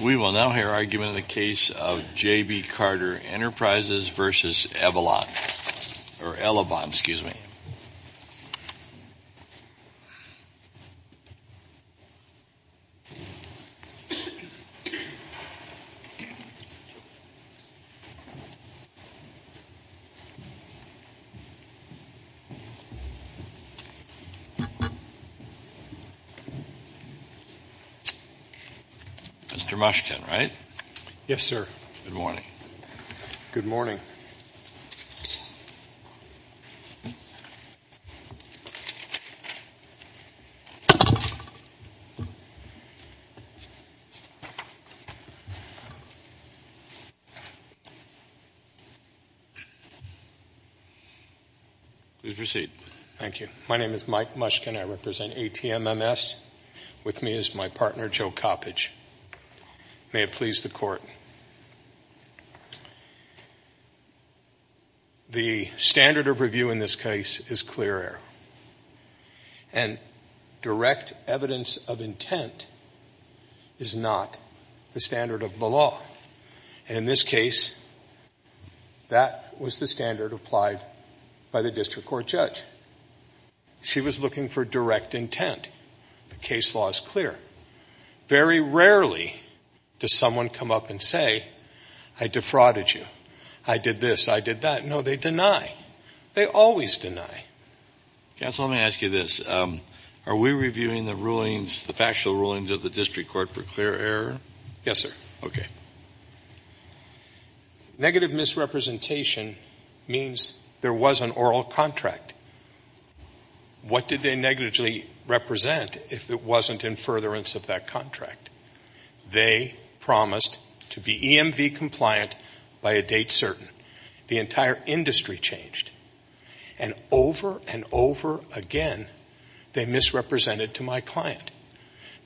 We will now hear argument in the case of J.B. Carter Enterprises v. Elavon. Mr. Mushkin, right? Yes, sir. Good morning. Good morning. Please proceed. Thank you. My name is Mike Mushkin. I represent ATMMS. With me is my partner, Joe Coppedge. May it please the Court. The standard of review in this case is clear error. And direct evidence of intent is not the standard of the law. And in this case, that was the standard applied by the district court judge. She was looking for direct intent. The case law is clear. Very rarely does someone come up and say, I defrauded you. I did this, I did that. No, they deny. They always deny. Counsel, let me ask you this. Are we reviewing the rulings, the factual rulings of the district court for clear error? Yes, sir. Okay. Negative misrepresentation means there was an oral contract. What did they negatively represent if it wasn't in furtherance of that contract? They promised to be EMV compliant by a date certain. The entire industry changed. And over and over again, they misrepresented to my client.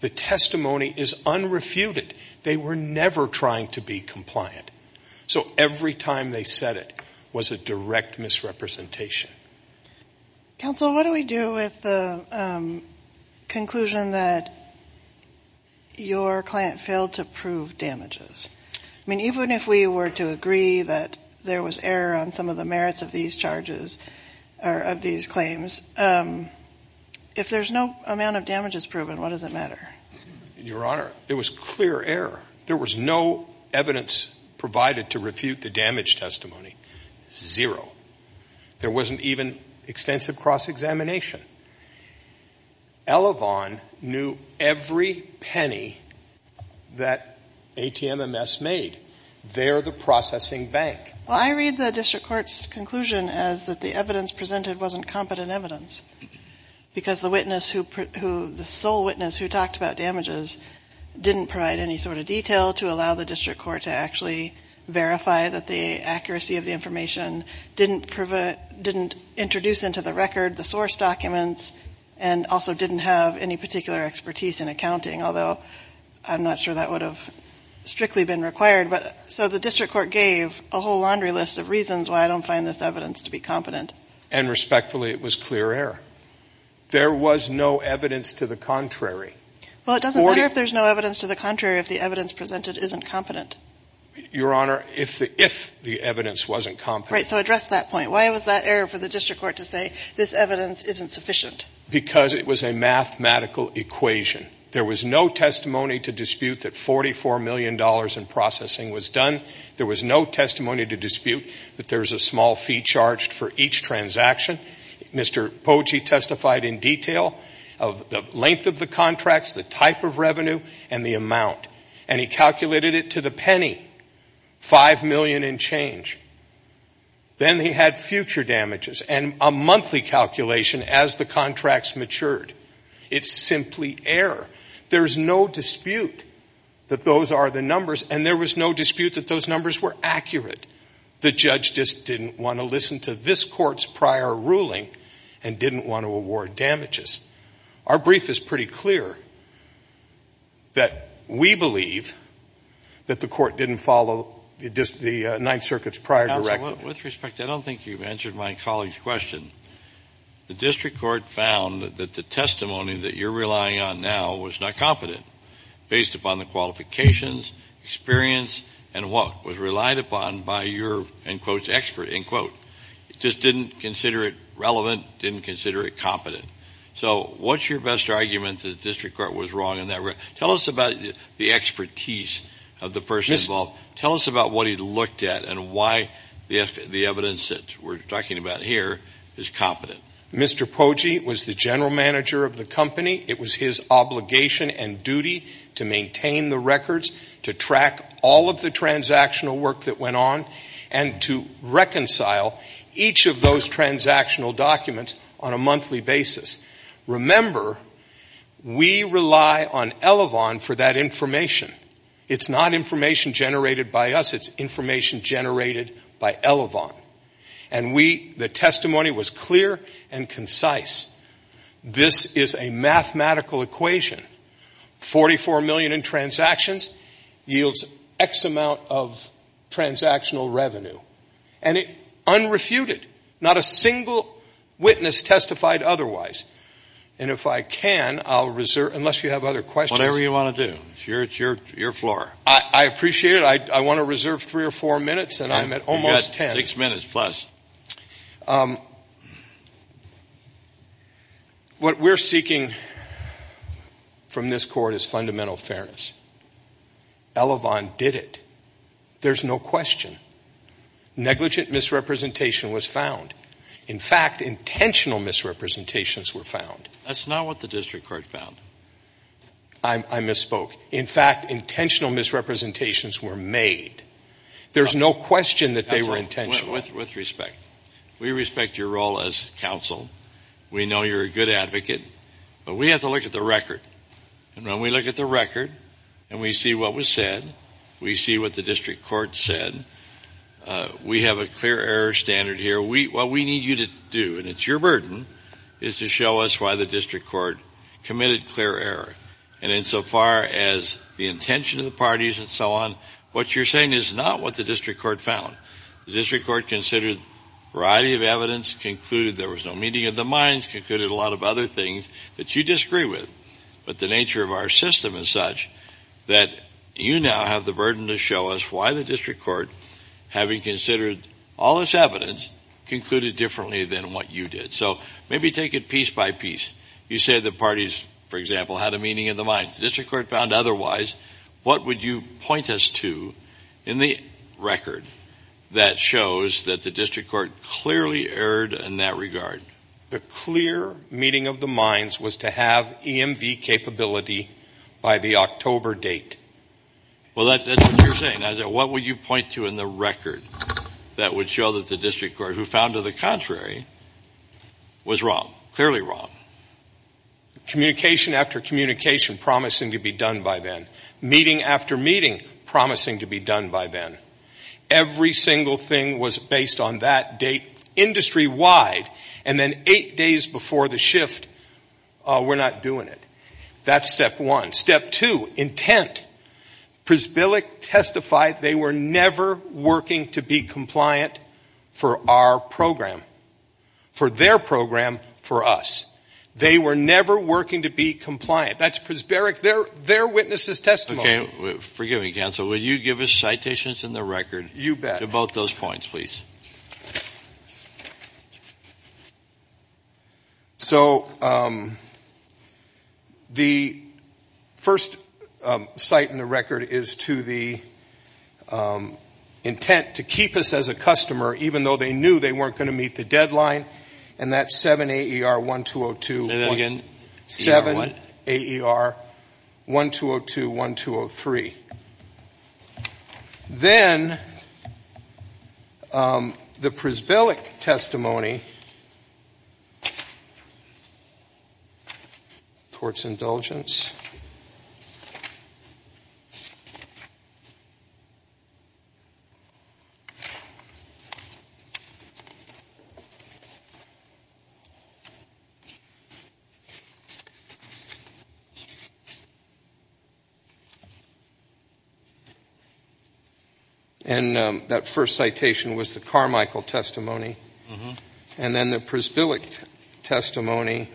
The testimony is unrefuted. They were never trying to be compliant. So every time they said it was a direct misrepresentation. Counsel, what do we do with the conclusion that your client failed to prove damages? I mean, even if we were to agree that there was error on some of the merits of these charges or of these claims, if there's no amount of damages proven, what does it matter? Your Honor, there was clear error. There was no evidence provided to refute the damage testimony. Zero. There wasn't even extensive cross-examination. Elevon knew every penny that ATMMS made. They're the processing bank. Well, I read the district court's conclusion as that the evidence presented wasn't competent evidence, because the witness who, the sole witness who talked about damages, didn't provide any sort of detail to allow the district court to actually verify that the accuracy of the information didn't introduce into the record the source documents and also didn't have any particular expertise in accounting, although I'm not sure that would have strictly been required. So the district court gave a whole laundry list of reasons why I don't find this evidence to be competent. And respectfully, it was clear error. There was no evidence to the contrary. Well, it doesn't matter if there's no evidence to the contrary if the evidence presented isn't competent. Your Honor, if the evidence wasn't competent. Right, so address that point. Why was that error for the district court to say this evidence isn't sufficient? Because it was a mathematical equation. There was no testimony to dispute that $44 million in processing was done. There was no testimony to dispute that there's a small fee charged for each transaction. Mr. Pogey testified in detail of the length of the contracts, the type of revenue, and the amount. And he calculated it to the penny, $5 million and change. Then he had future damages and a monthly calculation as the contracts matured. It's simply error. There's no dispute that those are the numbers. And there was no dispute that those numbers were accurate. The judge just didn't want to listen to this Court's prior ruling and didn't want to award damages. Our brief is pretty clear that we believe that the Court didn't follow the Ninth Circuit's prior directive. Counsel, with respect, I don't think you've answered my colleague's question. The district court found that the testimony that you're relying on now was not competent. Based upon the qualifications, experience, and what was relied upon by your, in quotes, expert, in quotes. It just didn't consider it relevant, didn't consider it competent. So what's your best argument that the district court was wrong in that regard? Tell us about the expertise of the person involved. Tell us about what he looked at and why the evidence that we're talking about here is competent. Mr. Pogey was the general manager of the company. It was his obligation and duty to maintain the records, to track all of the transactional work that went on, and to reconcile each of those transactional documents on a monthly basis. Remember, we rely on Elevon for that information. It's not information generated by us. It's information generated by Elevon. And we, the testimony was clear and concise. This is a mathematical equation. Forty-four million in transactions yields X amount of transactional revenue. And unrefuted. Not a single witness testified otherwise. And if I can, I'll reserve, unless you have other questions. Whatever you want to do. It's your floor. I appreciate it. I want to reserve three or four minutes and I'm at almost ten. You've got six minutes plus. What we're seeking from this Court is fundamental fairness. Elevon did it. There's no question. Negligent misrepresentation was found. In fact, intentional misrepresentations were found. That's not what the district court found. I misspoke. In fact, intentional misrepresentations were made. There's no question that they were intentional. With respect, we respect your role as counsel. We know you're a good advocate. But we have to look at the record. And when we look at the record and we see what was said, we see what the district court said, we have a clear error standard here. What we need you to do, and it's your burden, is to show us why the district court committed clear error. And insofar as the intention of the parties and so on, what you're saying is not what the district court found. The district court considered a variety of evidence, concluded there was no meaning in the minds, concluded a lot of other things that you disagree with. But the nature of our system is such that you now have the burden to show us why the district court, having considered all this evidence, concluded differently than what you did. So maybe take it piece by piece. You say the parties, for example, had a meaning in the minds. The district court found otherwise. What would you point us to in the record that shows that the district court clearly erred in that regard? The clear meaning of the minds was to have EMV capability by the October date. Well, that's what you're saying. What would you point to in the record that would show that the district court, who found to the contrary, was wrong, clearly wrong? Communication after communication promising to be done by then. Meeting after meeting promising to be done by then. Every single thing was based on that date industry-wide, and then eight days before the shift, we're not doing it. That's step one. Step two, intent. Prisbillick testified they were never working to be compliant for our program, for their program, for us. They were never working to be compliant. That's Prisbillick, their witness's testimony. Forgive me, counsel. Will you give us citations in the record? You bet. To both those points, please. So the first cite in the record is to the intent to keep us as a customer, even though they knew they weren't going to meet the deadline, and that's 7AER1202. Say that again. 7AER1202, 1203. Then the Prisbillick testimony, towards indulgence. And that first citation was the Carmichael testimony. And then the Prisbillick testimony.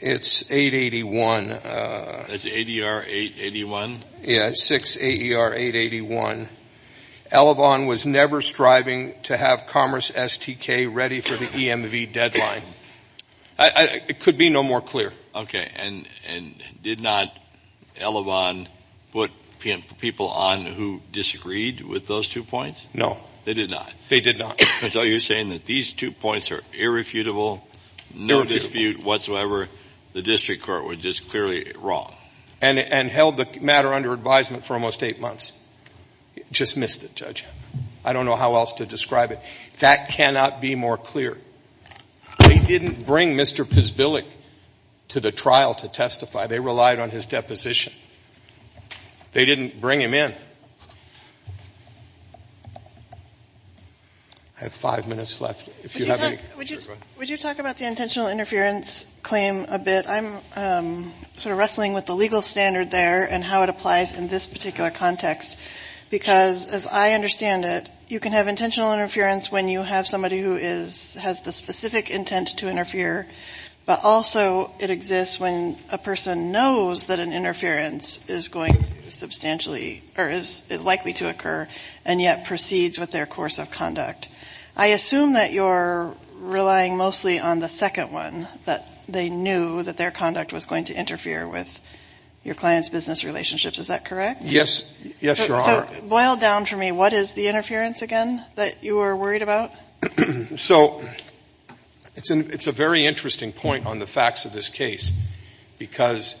It's 881. That's ADR881? Yeah, 6AER881. Elevon was never striving to have Commerce STK ready for the EMV deadline. It could be no more clear. Okay, and did not Elevon put people on who disagreed with those two points? No. They did not? They did not. So you're saying that these two points are irrefutable, no dispute whatsoever, the district court was just clearly wrong. And held the matter under advisement for almost eight months. Just missed it, Judge. I don't know how else to describe it. That cannot be more clear. They didn't bring Mr. Prisbillick to the trial to testify. They relied on his deposition. They didn't bring him in. I have five minutes left. Would you talk about the intentional interference claim a bit? I'm sort of wrestling with the legal standard there and how it applies in this particular context. Because as I understand it, you can have intentional interference when you have somebody who has the specific intent to interfere. But also it exists when a person knows that an interference is going to substantially or is likely to occur and yet proceeds with their course of conduct. I assume that you're relying mostly on the second one, that they knew that their conduct was going to interfere with your client's business relationships. Is that correct? Yes. Yes, Your Honor. Boil down for me. What is the interference again that you were worried about? So it's a very interesting point on the facts of this case. Because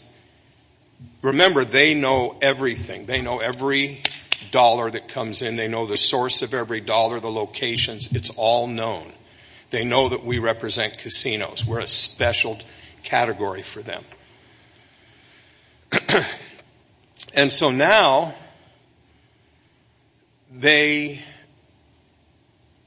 remember, they know everything. They know every dollar that comes in. They know the source of every dollar, the locations. It's all known. They know that we represent casinos. We're a special category for them. And so now they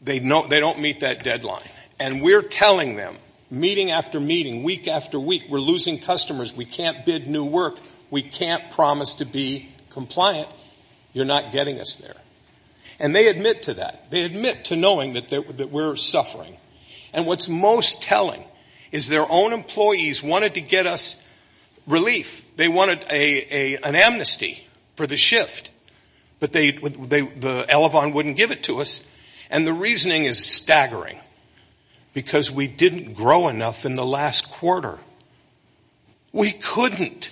don't meet that deadline. And we're telling them, meeting after meeting, week after week, we're losing customers, we can't bid new work, we can't promise to be compliant, you're not getting us there. And they admit to that. They admit to knowing that we're suffering. And what's most telling is their own employees wanted to get us relief. They wanted an amnesty for the shift. But the Elevon wouldn't give it to us. And the reasoning is staggering. Because we didn't grow enough in the last quarter. We couldn't.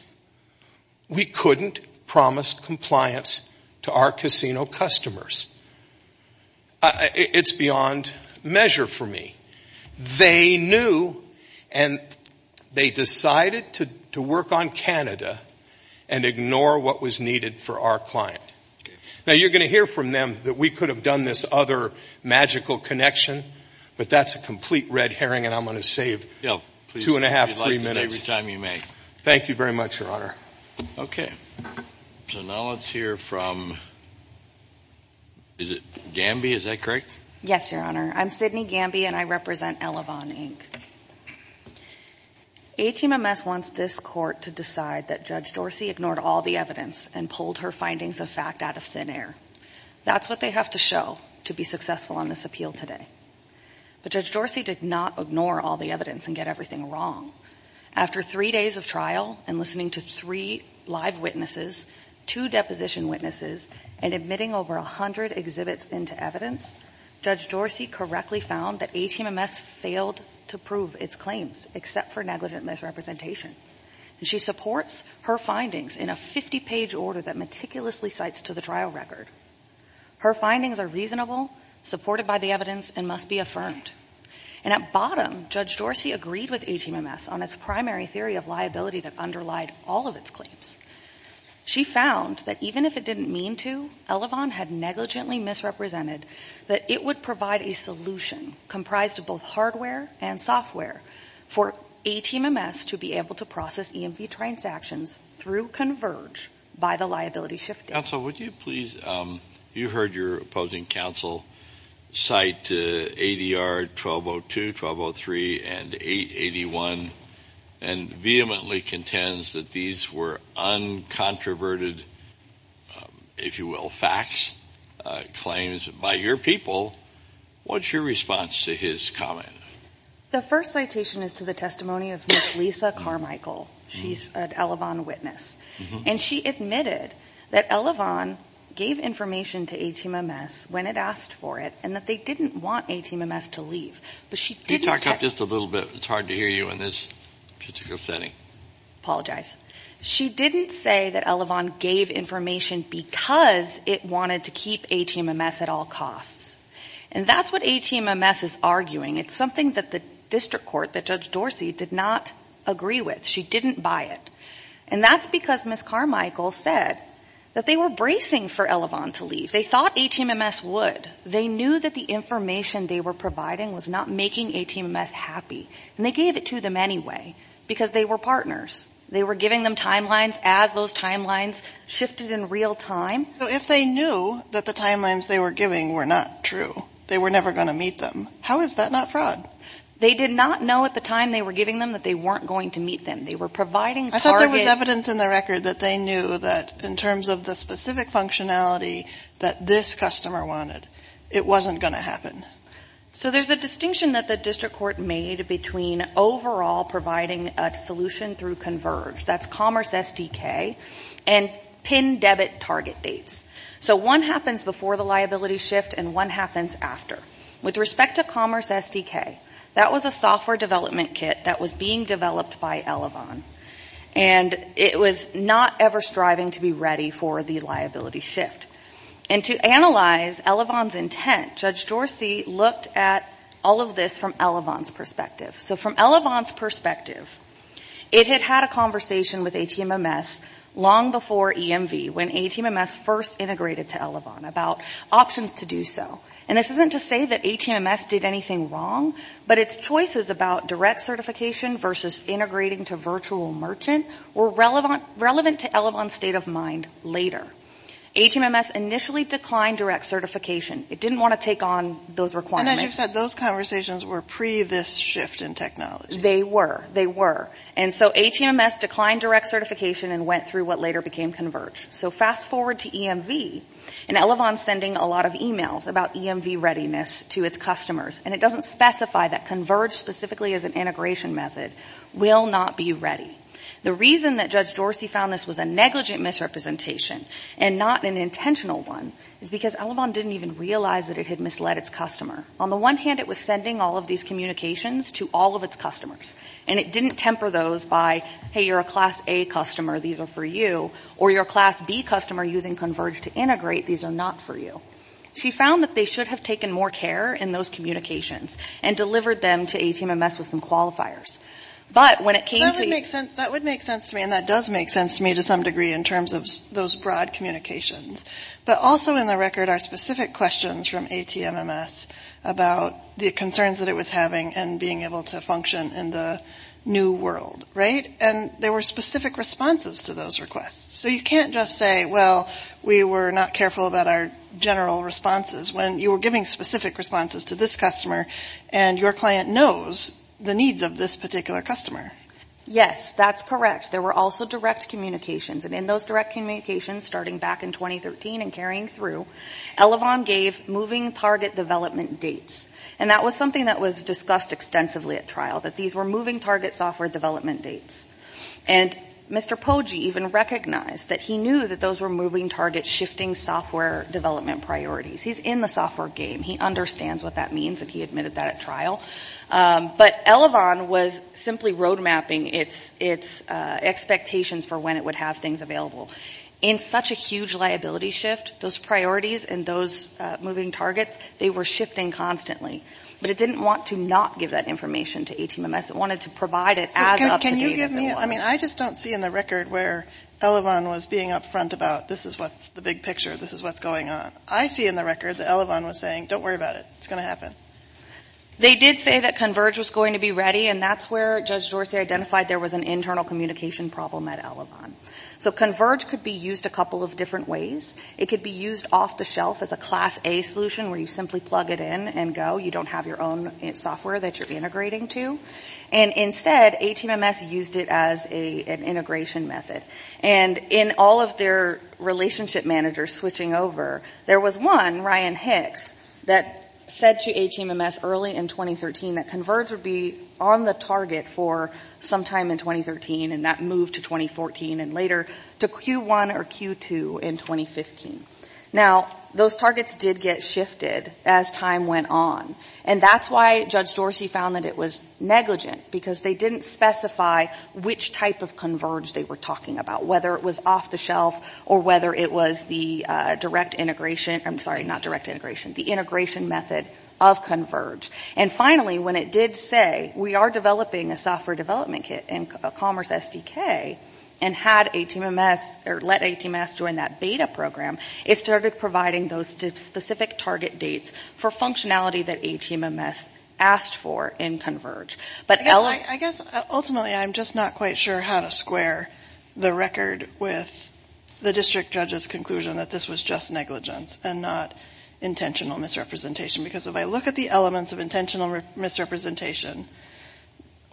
We couldn't promise compliance to our casino customers. It's beyond measure for me. They knew and they decided to work on Canada and ignore what was needed for our client. Now, you're going to hear from them that we could have done this other magical connection, but that's a complete red herring and I'm going to save two and a half, three minutes. Thank you very much, Your Honor. Okay. So now let's hear from, is it Gamby, is that correct? Yes, Your Honor. I'm Sydney Gamby and I represent Elevon, Inc. HMMS wants this court to decide that Judge Dorsey ignored all the evidence and pulled her findings of fact out of thin air. That's what they have to show to be successful on this appeal today. But Judge Dorsey did not ignore all the evidence and get everything wrong. After three days of trial and listening to three live witnesses, two deposition witnesses, and admitting over 100 exhibits into evidence, Judge Dorsey correctly found that HMMS failed to prove its claims, except for negligent misrepresentation. And she supports her findings in a 50-page order that meticulously cites to the trial record. Her findings are reasonable, supported by the evidence, and must be affirmed. And at bottom, Judge Dorsey agreed with HMMS on its primary theory of liability that underlied all of its claims. She found that even if it didn't mean to, Elevon had negligently misrepresented that it would provide a solution comprised of both hardware and software for HMMS to be able to process EMV transactions through Converge by the liability shifting. Counsel, would you please, you heard your opposing counsel cite ADR 1202, 1203, and 881, and vehemently contends that these were uncontroverted, if you will, facts, claims by your people. What's your response to his comment? The first citation is to the testimony of Ms. Lisa Carmichael. She's an Elevon witness. And she admitted that Elevon gave information to HMMS when it asked for it and that they didn't want HMMS to leave. But she didn't say that. Can you talk just a little bit? It's hard to hear you in this particular setting. Apologize. She didn't say that Elevon gave information because it wanted to keep HMMS at all costs. And that's what HMMS is arguing. It's something that the district court, that Judge Dorsey, did not agree with. She didn't buy it. And that's because Ms. Carmichael said that they were bracing for Elevon to leave. They thought HMMS would. They knew that the information they were providing was not making HMMS happy. And they gave it to them anyway because they were partners. They were giving them timelines as those timelines shifted in real time. So if they knew that the timelines they were giving were not true, they were never going to meet them, how is that not fraud? They did not know at the time they were giving them that they weren't going to meet them. They were providing targets. I thought there was evidence in the record that they knew that in terms of the specific functionality that this customer wanted, it wasn't going to happen. So there's a distinction that the district court made between overall providing a solution through Converge, that's Commerce SDK, and pin debit target dates. So one happens before the liability shift and one happens after. With respect to Commerce SDK, that was a software development kit that was being developed by Elevon. And it was not ever striving to be ready for the liability shift. And to analyze Elevon's intent, Judge Dorsey looked at all of this from Elevon's perspective. So from Elevon's perspective, it had had a conversation with HMMS long before EMV when HMMS first integrated to Elevon about options to do so. And this isn't to say that HMMS did anything wrong, but its choices about direct certification versus integrating to virtual merchant were relevant to Elevon's state of mind later. HMMS initially declined direct certification. It didn't want to take on those requirements. And as you've said, those conversations were pre this shift in technology. They were. They were. And so HMMS declined direct certification and went through what later became Converge. So fast forward to EMV, and Elevon's sending a lot of emails about EMV readiness to its customers. And it doesn't specify that Converge, specifically as an integration method, will not be ready. The reason that Judge Dorsey found this was a negligent misrepresentation and not an intentional one is because Elevon didn't even realize that it had misled its customer. On the one hand, it was sending all of these communications to all of its customers. And it didn't temper those by, hey, you're a Class A customer. These are for you. Or you're a Class B customer using Converge to integrate. These are not for you. She found that they should have taken more care in those communications and delivered them to HMMS with some qualifiers. But when it came to the... That would make sense to me, and that does make sense to me to some degree in terms of those broad communications. But also in the record are specific questions from HMMS about the concerns that it was having and being able to function in the new world, right? And there were specific responses to those requests. So you can't just say, well, we were not careful about our general responses when you were giving specific responses to this customer and your client knows the needs of this particular customer. Yes, that's correct. There were also direct communications. And in those direct communications starting back in 2013 and carrying through, Elevon gave moving target development dates. And that was something that was discussed extensively at trial, that these were moving target software development dates. And Mr. Poggi even recognized that he knew that those were moving target shifting software development priorities. He's in the software game. He understands what that means, and he admitted that at trial. But Elevon was simply road mapping its expectations for when it would have things available. In such a huge liability shift, those priorities and those moving targets, they were shifting constantly. But it didn't want to not give that information to HMMS. It wanted to provide it as up-to-date as it was. I just don't see in the record where Elevon was being up front about this is what's the big picture. This is what's going on. I see in the record that Elevon was saying, don't worry about it. It's going to happen. They did say that Converge was going to be ready, and that's where Judge Dorsey identified there was an internal communication problem at Elevon. So Converge could be used a couple of different ways. It could be used off the shelf as a Class A solution where you simply plug it in and go. You don't have your own software that you're integrating to. And instead, HMMS used it as an integration method. And in all of their relationship managers switching over, there was one, Ryan Hicks, that said to HMMS early in 2013 that Converge would be on the target for sometime in 2013, and that moved to 2014 and later to Q1 or Q2 in 2015. Now, those targets did get shifted as time went on. And that's why Judge Dorsey found that it was negligent, because they didn't specify which type of Converge they were talking about, whether it was off the shelf or whether it was the integration method of Converge. And finally, when it did say, we are developing a software development kit in Commerce SDK and had HMMS or let HMMS join that beta program, it started providing those specific target dates for functionality that HMMS asked for in Converge. But Elevon... I guess ultimately I'm just not quite sure how to square the record with the district judge's conclusion that this was just negligence and not intentional misrepresentation. Because if I look at the elements of intentional misrepresentation,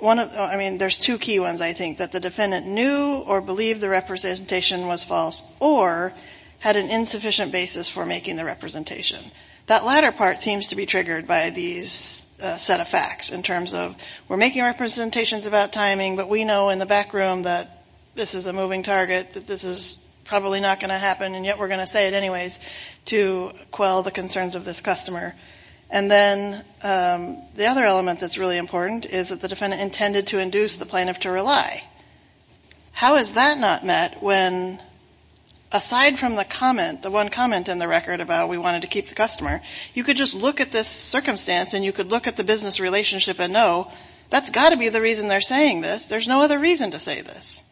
I mean, there's two key ones, I think, that the defendant knew or believed the representation was false or had an insufficient basis for making the representation. That latter part seems to be triggered by these set of facts in terms of, we're making representations about timing, but we know in the back room that this is a moving target, that this is probably not going to happen, and yet we're going to say it anyways to quell the concerns of this customer. And then the other element that's really important is that the defendant intended to induce the plaintiff to rely. How is that not met when, aside from the comment, the one comment in the record about we wanted to keep the customer, you could just look at this circumstance and you could look at the business relationship and know, that's got to be the reason they're saying this. There's no other reason to say this.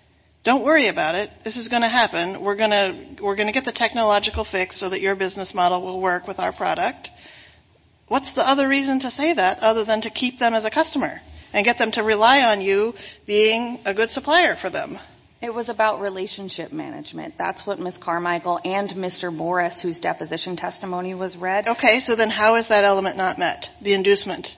Don't worry about it. This is going to happen. We're going to get the technological fix so that your business model will work with our product. What's the other reason to say that other than to keep them as a customer and get them to rely on you being a good supplier for them? It was about relationship management. That's what Ms. Carmichael and Mr. Morris, whose deposition testimony was read. Okay. So then how is that element not met, the inducement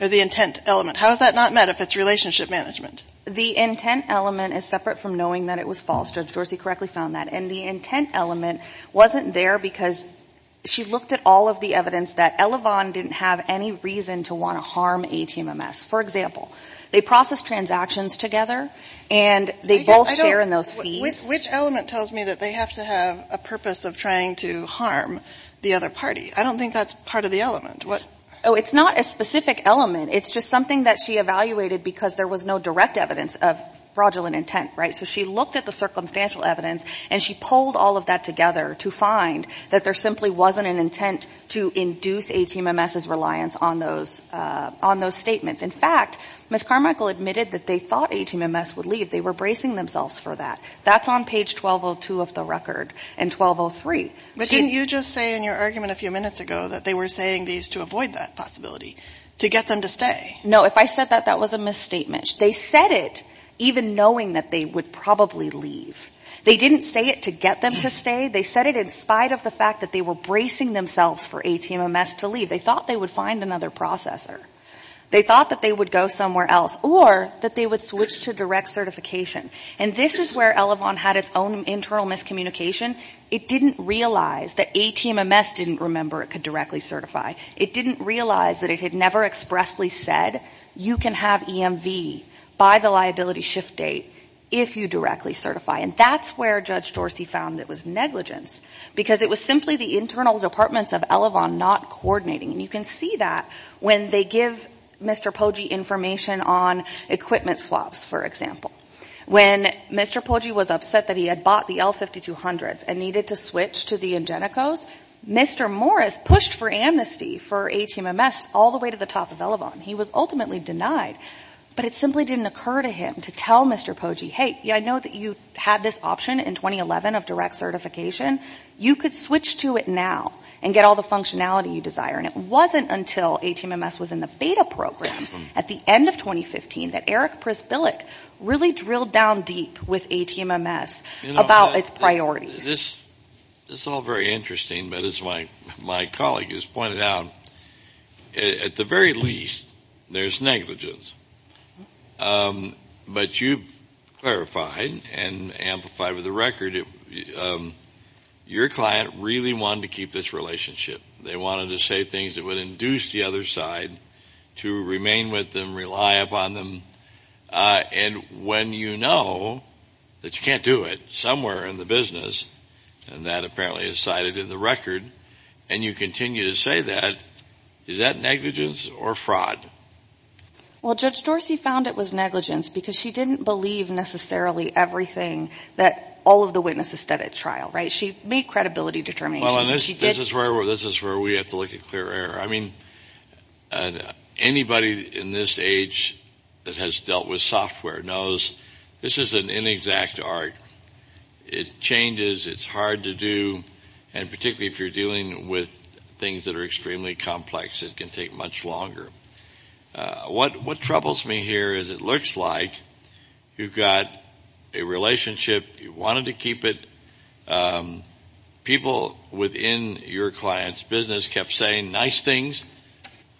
or the intent element? How is that not met if it's relationship management? The intent element is separate from knowing that it was false. Judge Dorsey correctly found that. And the intent element wasn't there because she looked at all of the evidence that Elevon didn't have any reason to want to harm ATMMS. For example, they process transactions together and they both share in those fees. Which element tells me that they have to have a purpose of trying to harm the other party? I don't think that's part of the element. Oh, it's not a specific element. It's just something that she evaluated because there was no direct evidence of fraudulent intent, right? So she looked at the circumstantial evidence and she pulled all of that together to find that there simply wasn't an intent to induce ATMMS's reliance on those statements. In fact, Ms. Carmichael admitted that they thought ATMMS would leave. They were bracing themselves for that. That's on page 1202 of the record and 1203. But didn't you just say in your argument a few minutes ago that they were saying these to avoid that possibility, to get them to stay? No. If I said that, that was a misstatement. They said it even knowing that they would probably leave. They didn't say it to get them to stay. They said it in spite of the fact that they were bracing themselves for ATMMS to leave. They thought they would find another processor. They thought that they would go somewhere else. Or that they would switch to direct certification. And this is where Elevon had its own internal miscommunication. It didn't realize that ATMMS didn't remember it could directly certify. It didn't realize that it had never expressly said you can have EMV by the liability shift date if you directly certify. And that's where Judge Dorsey found it was negligence. Because it was simply the internal departments of Elevon not coordinating. And you can see that when they give Mr. Poggi information on equipment swaps, for example. When Mr. Poggi was upset that he had bought the L5200s and needed to switch to the Ingenicos, Mr. Morris pushed for amnesty for ATMMS all the way to the top of Elevon. He was ultimately denied. But it simply didn't occur to him to tell Mr. Poggi, hey, I know that you had this option in 2011 of direct certification. You could switch to it now and get all the functionality you desire. And it wasn't until ATMMS was in the beta program at the end of 2015 that Eric Prisbillik really drilled down deep with ATMMS about its priorities. This is all very interesting. But as my colleague has pointed out, at the very least, there's negligence. But you've clarified and amplified with the record your client really wanted to keep this relationship. They wanted to say things that would induce the other side to remain with them, rely upon them. And when you know that you can't do it somewhere in the business, and that apparently is cited in the record, and you continue to say that, is that negligence or fraud? Well, Judge Dorsey found it was negligence because she didn't believe necessarily everything that all of the witnesses said at trial. She made credibility determinations. This is where we have to look at clear error. I mean, anybody in this age that has dealt with software knows this is an inexact art. It changes. It's hard to do. And particularly if you're dealing with things that are extremely complex, it can take much longer. What troubles me here is it looks like you've got a relationship. You wanted to keep it. People within your client's business kept saying nice things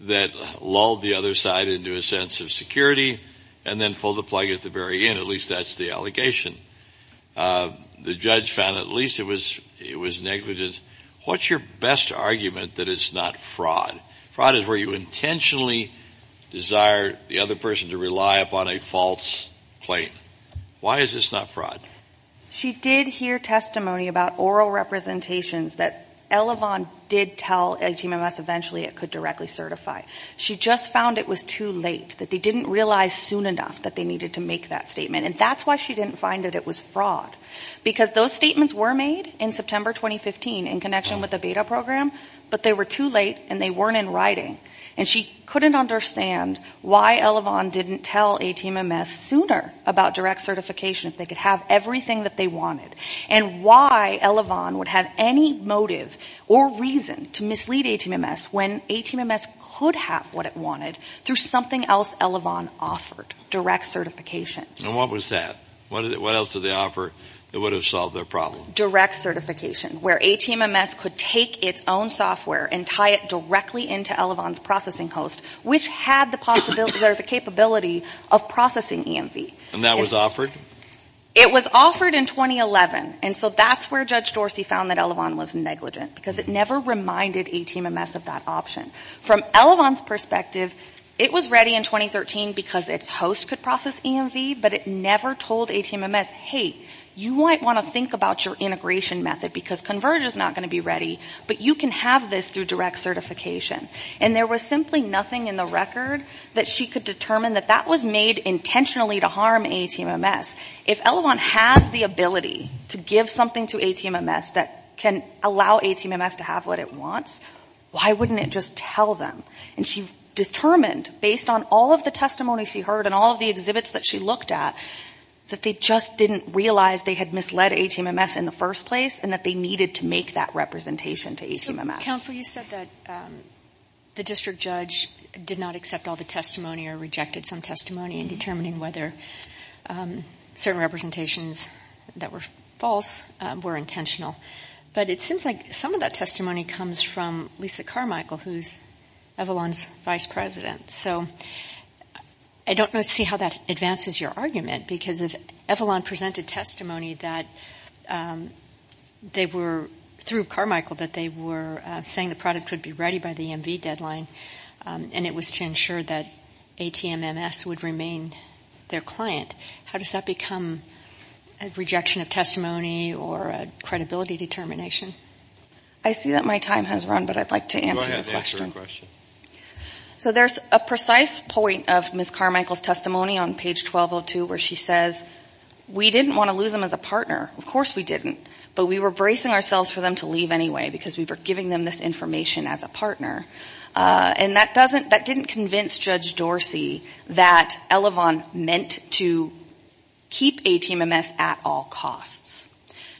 that lulled the other side into a sense of security and then pulled the plug at the very end. At least that's the allegation. The judge found at least it was negligence. What's your best argument that it's not fraud? Fraud is where you intentionally desire the other person to rely upon a false claim. Why is this not fraud? She did hear testimony about oral representations that Elevon did tell ATMMS eventually it could directly certify. She just found it was too late, that they didn't realize soon enough that they needed to make that statement. And that's why she didn't find that it was fraud. Because those statements were made in September 2015 in connection with the beta program, but they were too late and they weren't in writing. And she couldn't understand why Elevon didn't tell ATMMS sooner about direct certification, if they could have everything that they wanted, and why Elevon would have any motive or reason to mislead ATMMS when ATMMS could have what it wanted through something else Elevon offered, direct certification. And what was that? What else did they offer that would have solved their problem? Where ATMMS could take its own software and tie it directly into Elevon's processing host, which had the possibility or the capability of processing EMV. And that was offered? It was offered in 2011. And so that's where Judge Dorsey found that Elevon was negligent, because it never reminded ATMMS of that option. From Elevon's perspective, it was ready in 2013 because its host could process EMV, but it never told ATMMS, hey, you might want to think about your integration method, because Converge is not going to be ready, but you can have this through direct certification. And there was simply nothing in the record that she could determine that that was made intentionally to harm ATMMS. If Elevon has the ability to give something to ATMMS that can allow ATMMS to have what it wants, why wouldn't it just tell them? And she determined, based on all of the testimony she heard and all of the exhibits that she looked at, that they just didn't realize they had misled ATMMS in the first place and that they needed to make that representation to ATMMS. Counsel, you said that the district judge did not accept all the testimony or rejected some testimony in determining whether certain representations that were false were intentional. But it seems like some of that testimony comes from Lisa Carmichael, who is Elevon's vice president. So I don't see how that advances your argument, because if Elevon presented testimony that they were, through Carmichael, that they were saying the product would be ready by the EMV deadline and it was to ensure that ATMMS would remain their client, how does that become a rejection of testimony or a credibility determination? I see that my time has run, but I'd like to answer the question. Go ahead and answer your question. So there's a precise point of Ms. Carmichael's testimony on page 1202 where she says, we didn't want to lose them as a partner. Of course we didn't, but we were bracing ourselves for them to leave anyway, because we were giving them this information as a partner. And that doesn't, that didn't convince Judge Dorsey that Elevon meant to keep ATMMS at all costs.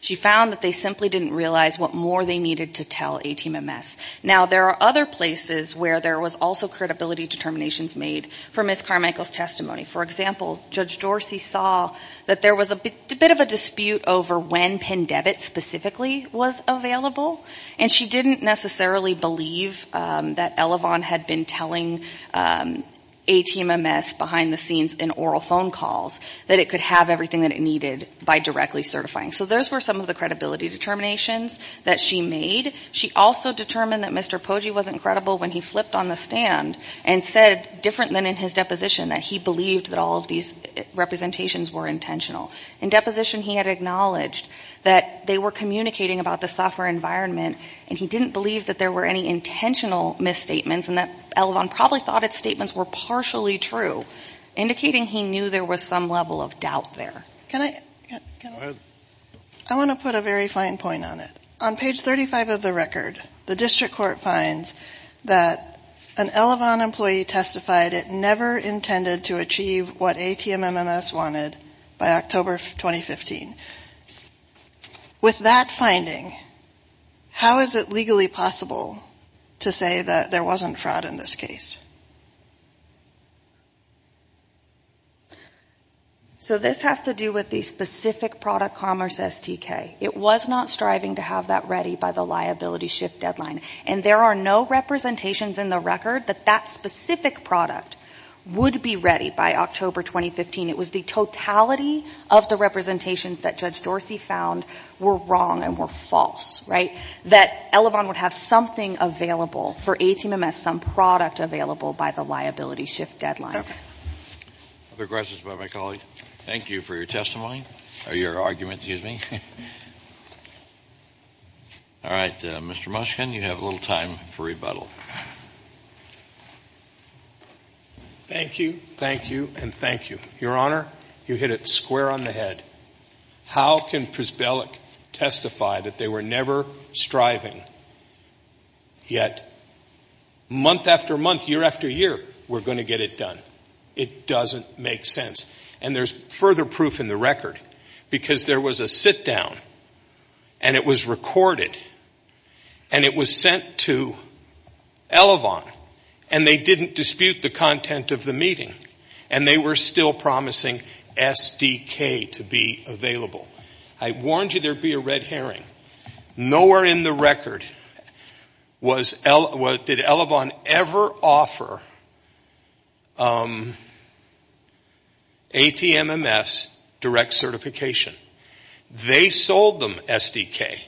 She found that they simply didn't realize what more they needed to tell ATMMS. Now, there are other places where there was also credibility determinations made for Ms. Carmichael's testimony. For example, Judge Dorsey saw that there was a bit of a dispute over when PennDevitt specifically was available, and she didn't necessarily believe that Elevon had been telling ATMMS behind the scenes in oral phone calls, that it could have everything that it needed by directly certifying. So those were some of the credibility determinations that she made. She also determined that Mr. Poggi wasn't credible when he flipped on the stand and said, different than in his deposition, that he believed that all of these representations were intentional. In deposition, he had acknowledged that they were communicating about the software environment, and he didn't believe that there were any intentional misstatements, and that Elevon probably thought its statements were partially true, indicating he knew there was some level of doubt there. Can I? Go ahead. I want to put a very fine point on it. On page 35 of the record, the district court finds that an Elevon employee testified it never intended to achieve what ATMMS wanted by October 2015. With that finding, how is it legally possible to say that there wasn't fraud in this case? So this has to do with the specific product commerce SDK. It was not striving to have that ready by the liability shift deadline, and there are no representations in the record that that specific product would be ready by October 2015. It was the totality of the representations that Judge Dorsey found were wrong and were false, right, that Elevon would have something available for ATMMS, some product available by the liability shift deadline. Other questions about my colleague? Thank you for your testimony, or your argument, excuse me. All right. Mr. Mushkin, you have a little time for rebuttal. Thank you, thank you, and thank you. Your Honor, you hit it square on the head. How can Prisbelic testify that they were never striving, yet month after month, year after year, we're going to get it done? It doesn't make sense. And there's further proof in the record, because there was a sit-down, and it was recorded, and it was sent to Elevon, and they didn't dispute the content of the meeting, and they were still promising SDK to be available. I warned you there would be a red herring. Nowhere in the record did Elevon ever offer ATMMS direct certification. They sold them SDK.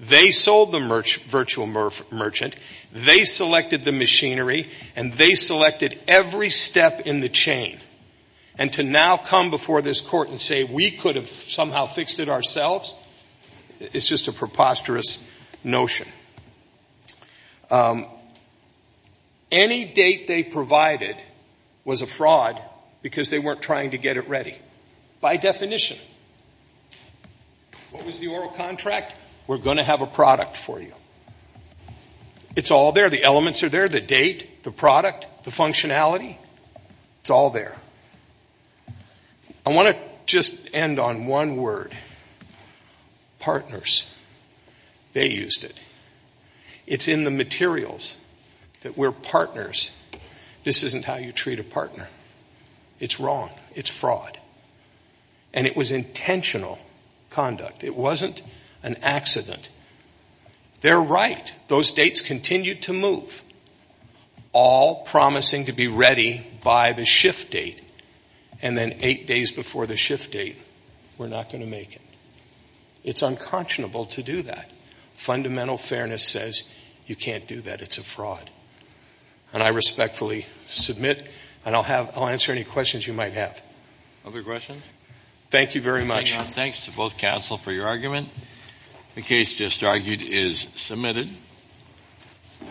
They sold the virtual merchant. They selected the machinery, and they selected every step in the chain. And to now come before this Court and say we could have somehow fixed it ourselves, it's just a preposterous notion. Any date they provided was a fraud because they weren't trying to get it ready, by definition. What was the oral contract? We're going to have a product for you. It's all there. The elements are there. The date, the product, the functionality, it's all there. I want to just end on one word. They used it. It's in the materials that we're partners. This isn't how you treat a partner. It's wrong. It's fraud. And it was intentional conduct. It wasn't an accident. They're right. Those dates continued to move, all promising to be ready by the shift date. And then eight days before the shift date, we're not going to make it. It's unconscionable to do that. Fundamental fairness says you can't do that. It's a fraud. And I respectfully submit, and I'll answer any questions you might have. Other questions? Thank you very much. Thanks to both counsel for your argument. The case just argued is submitted.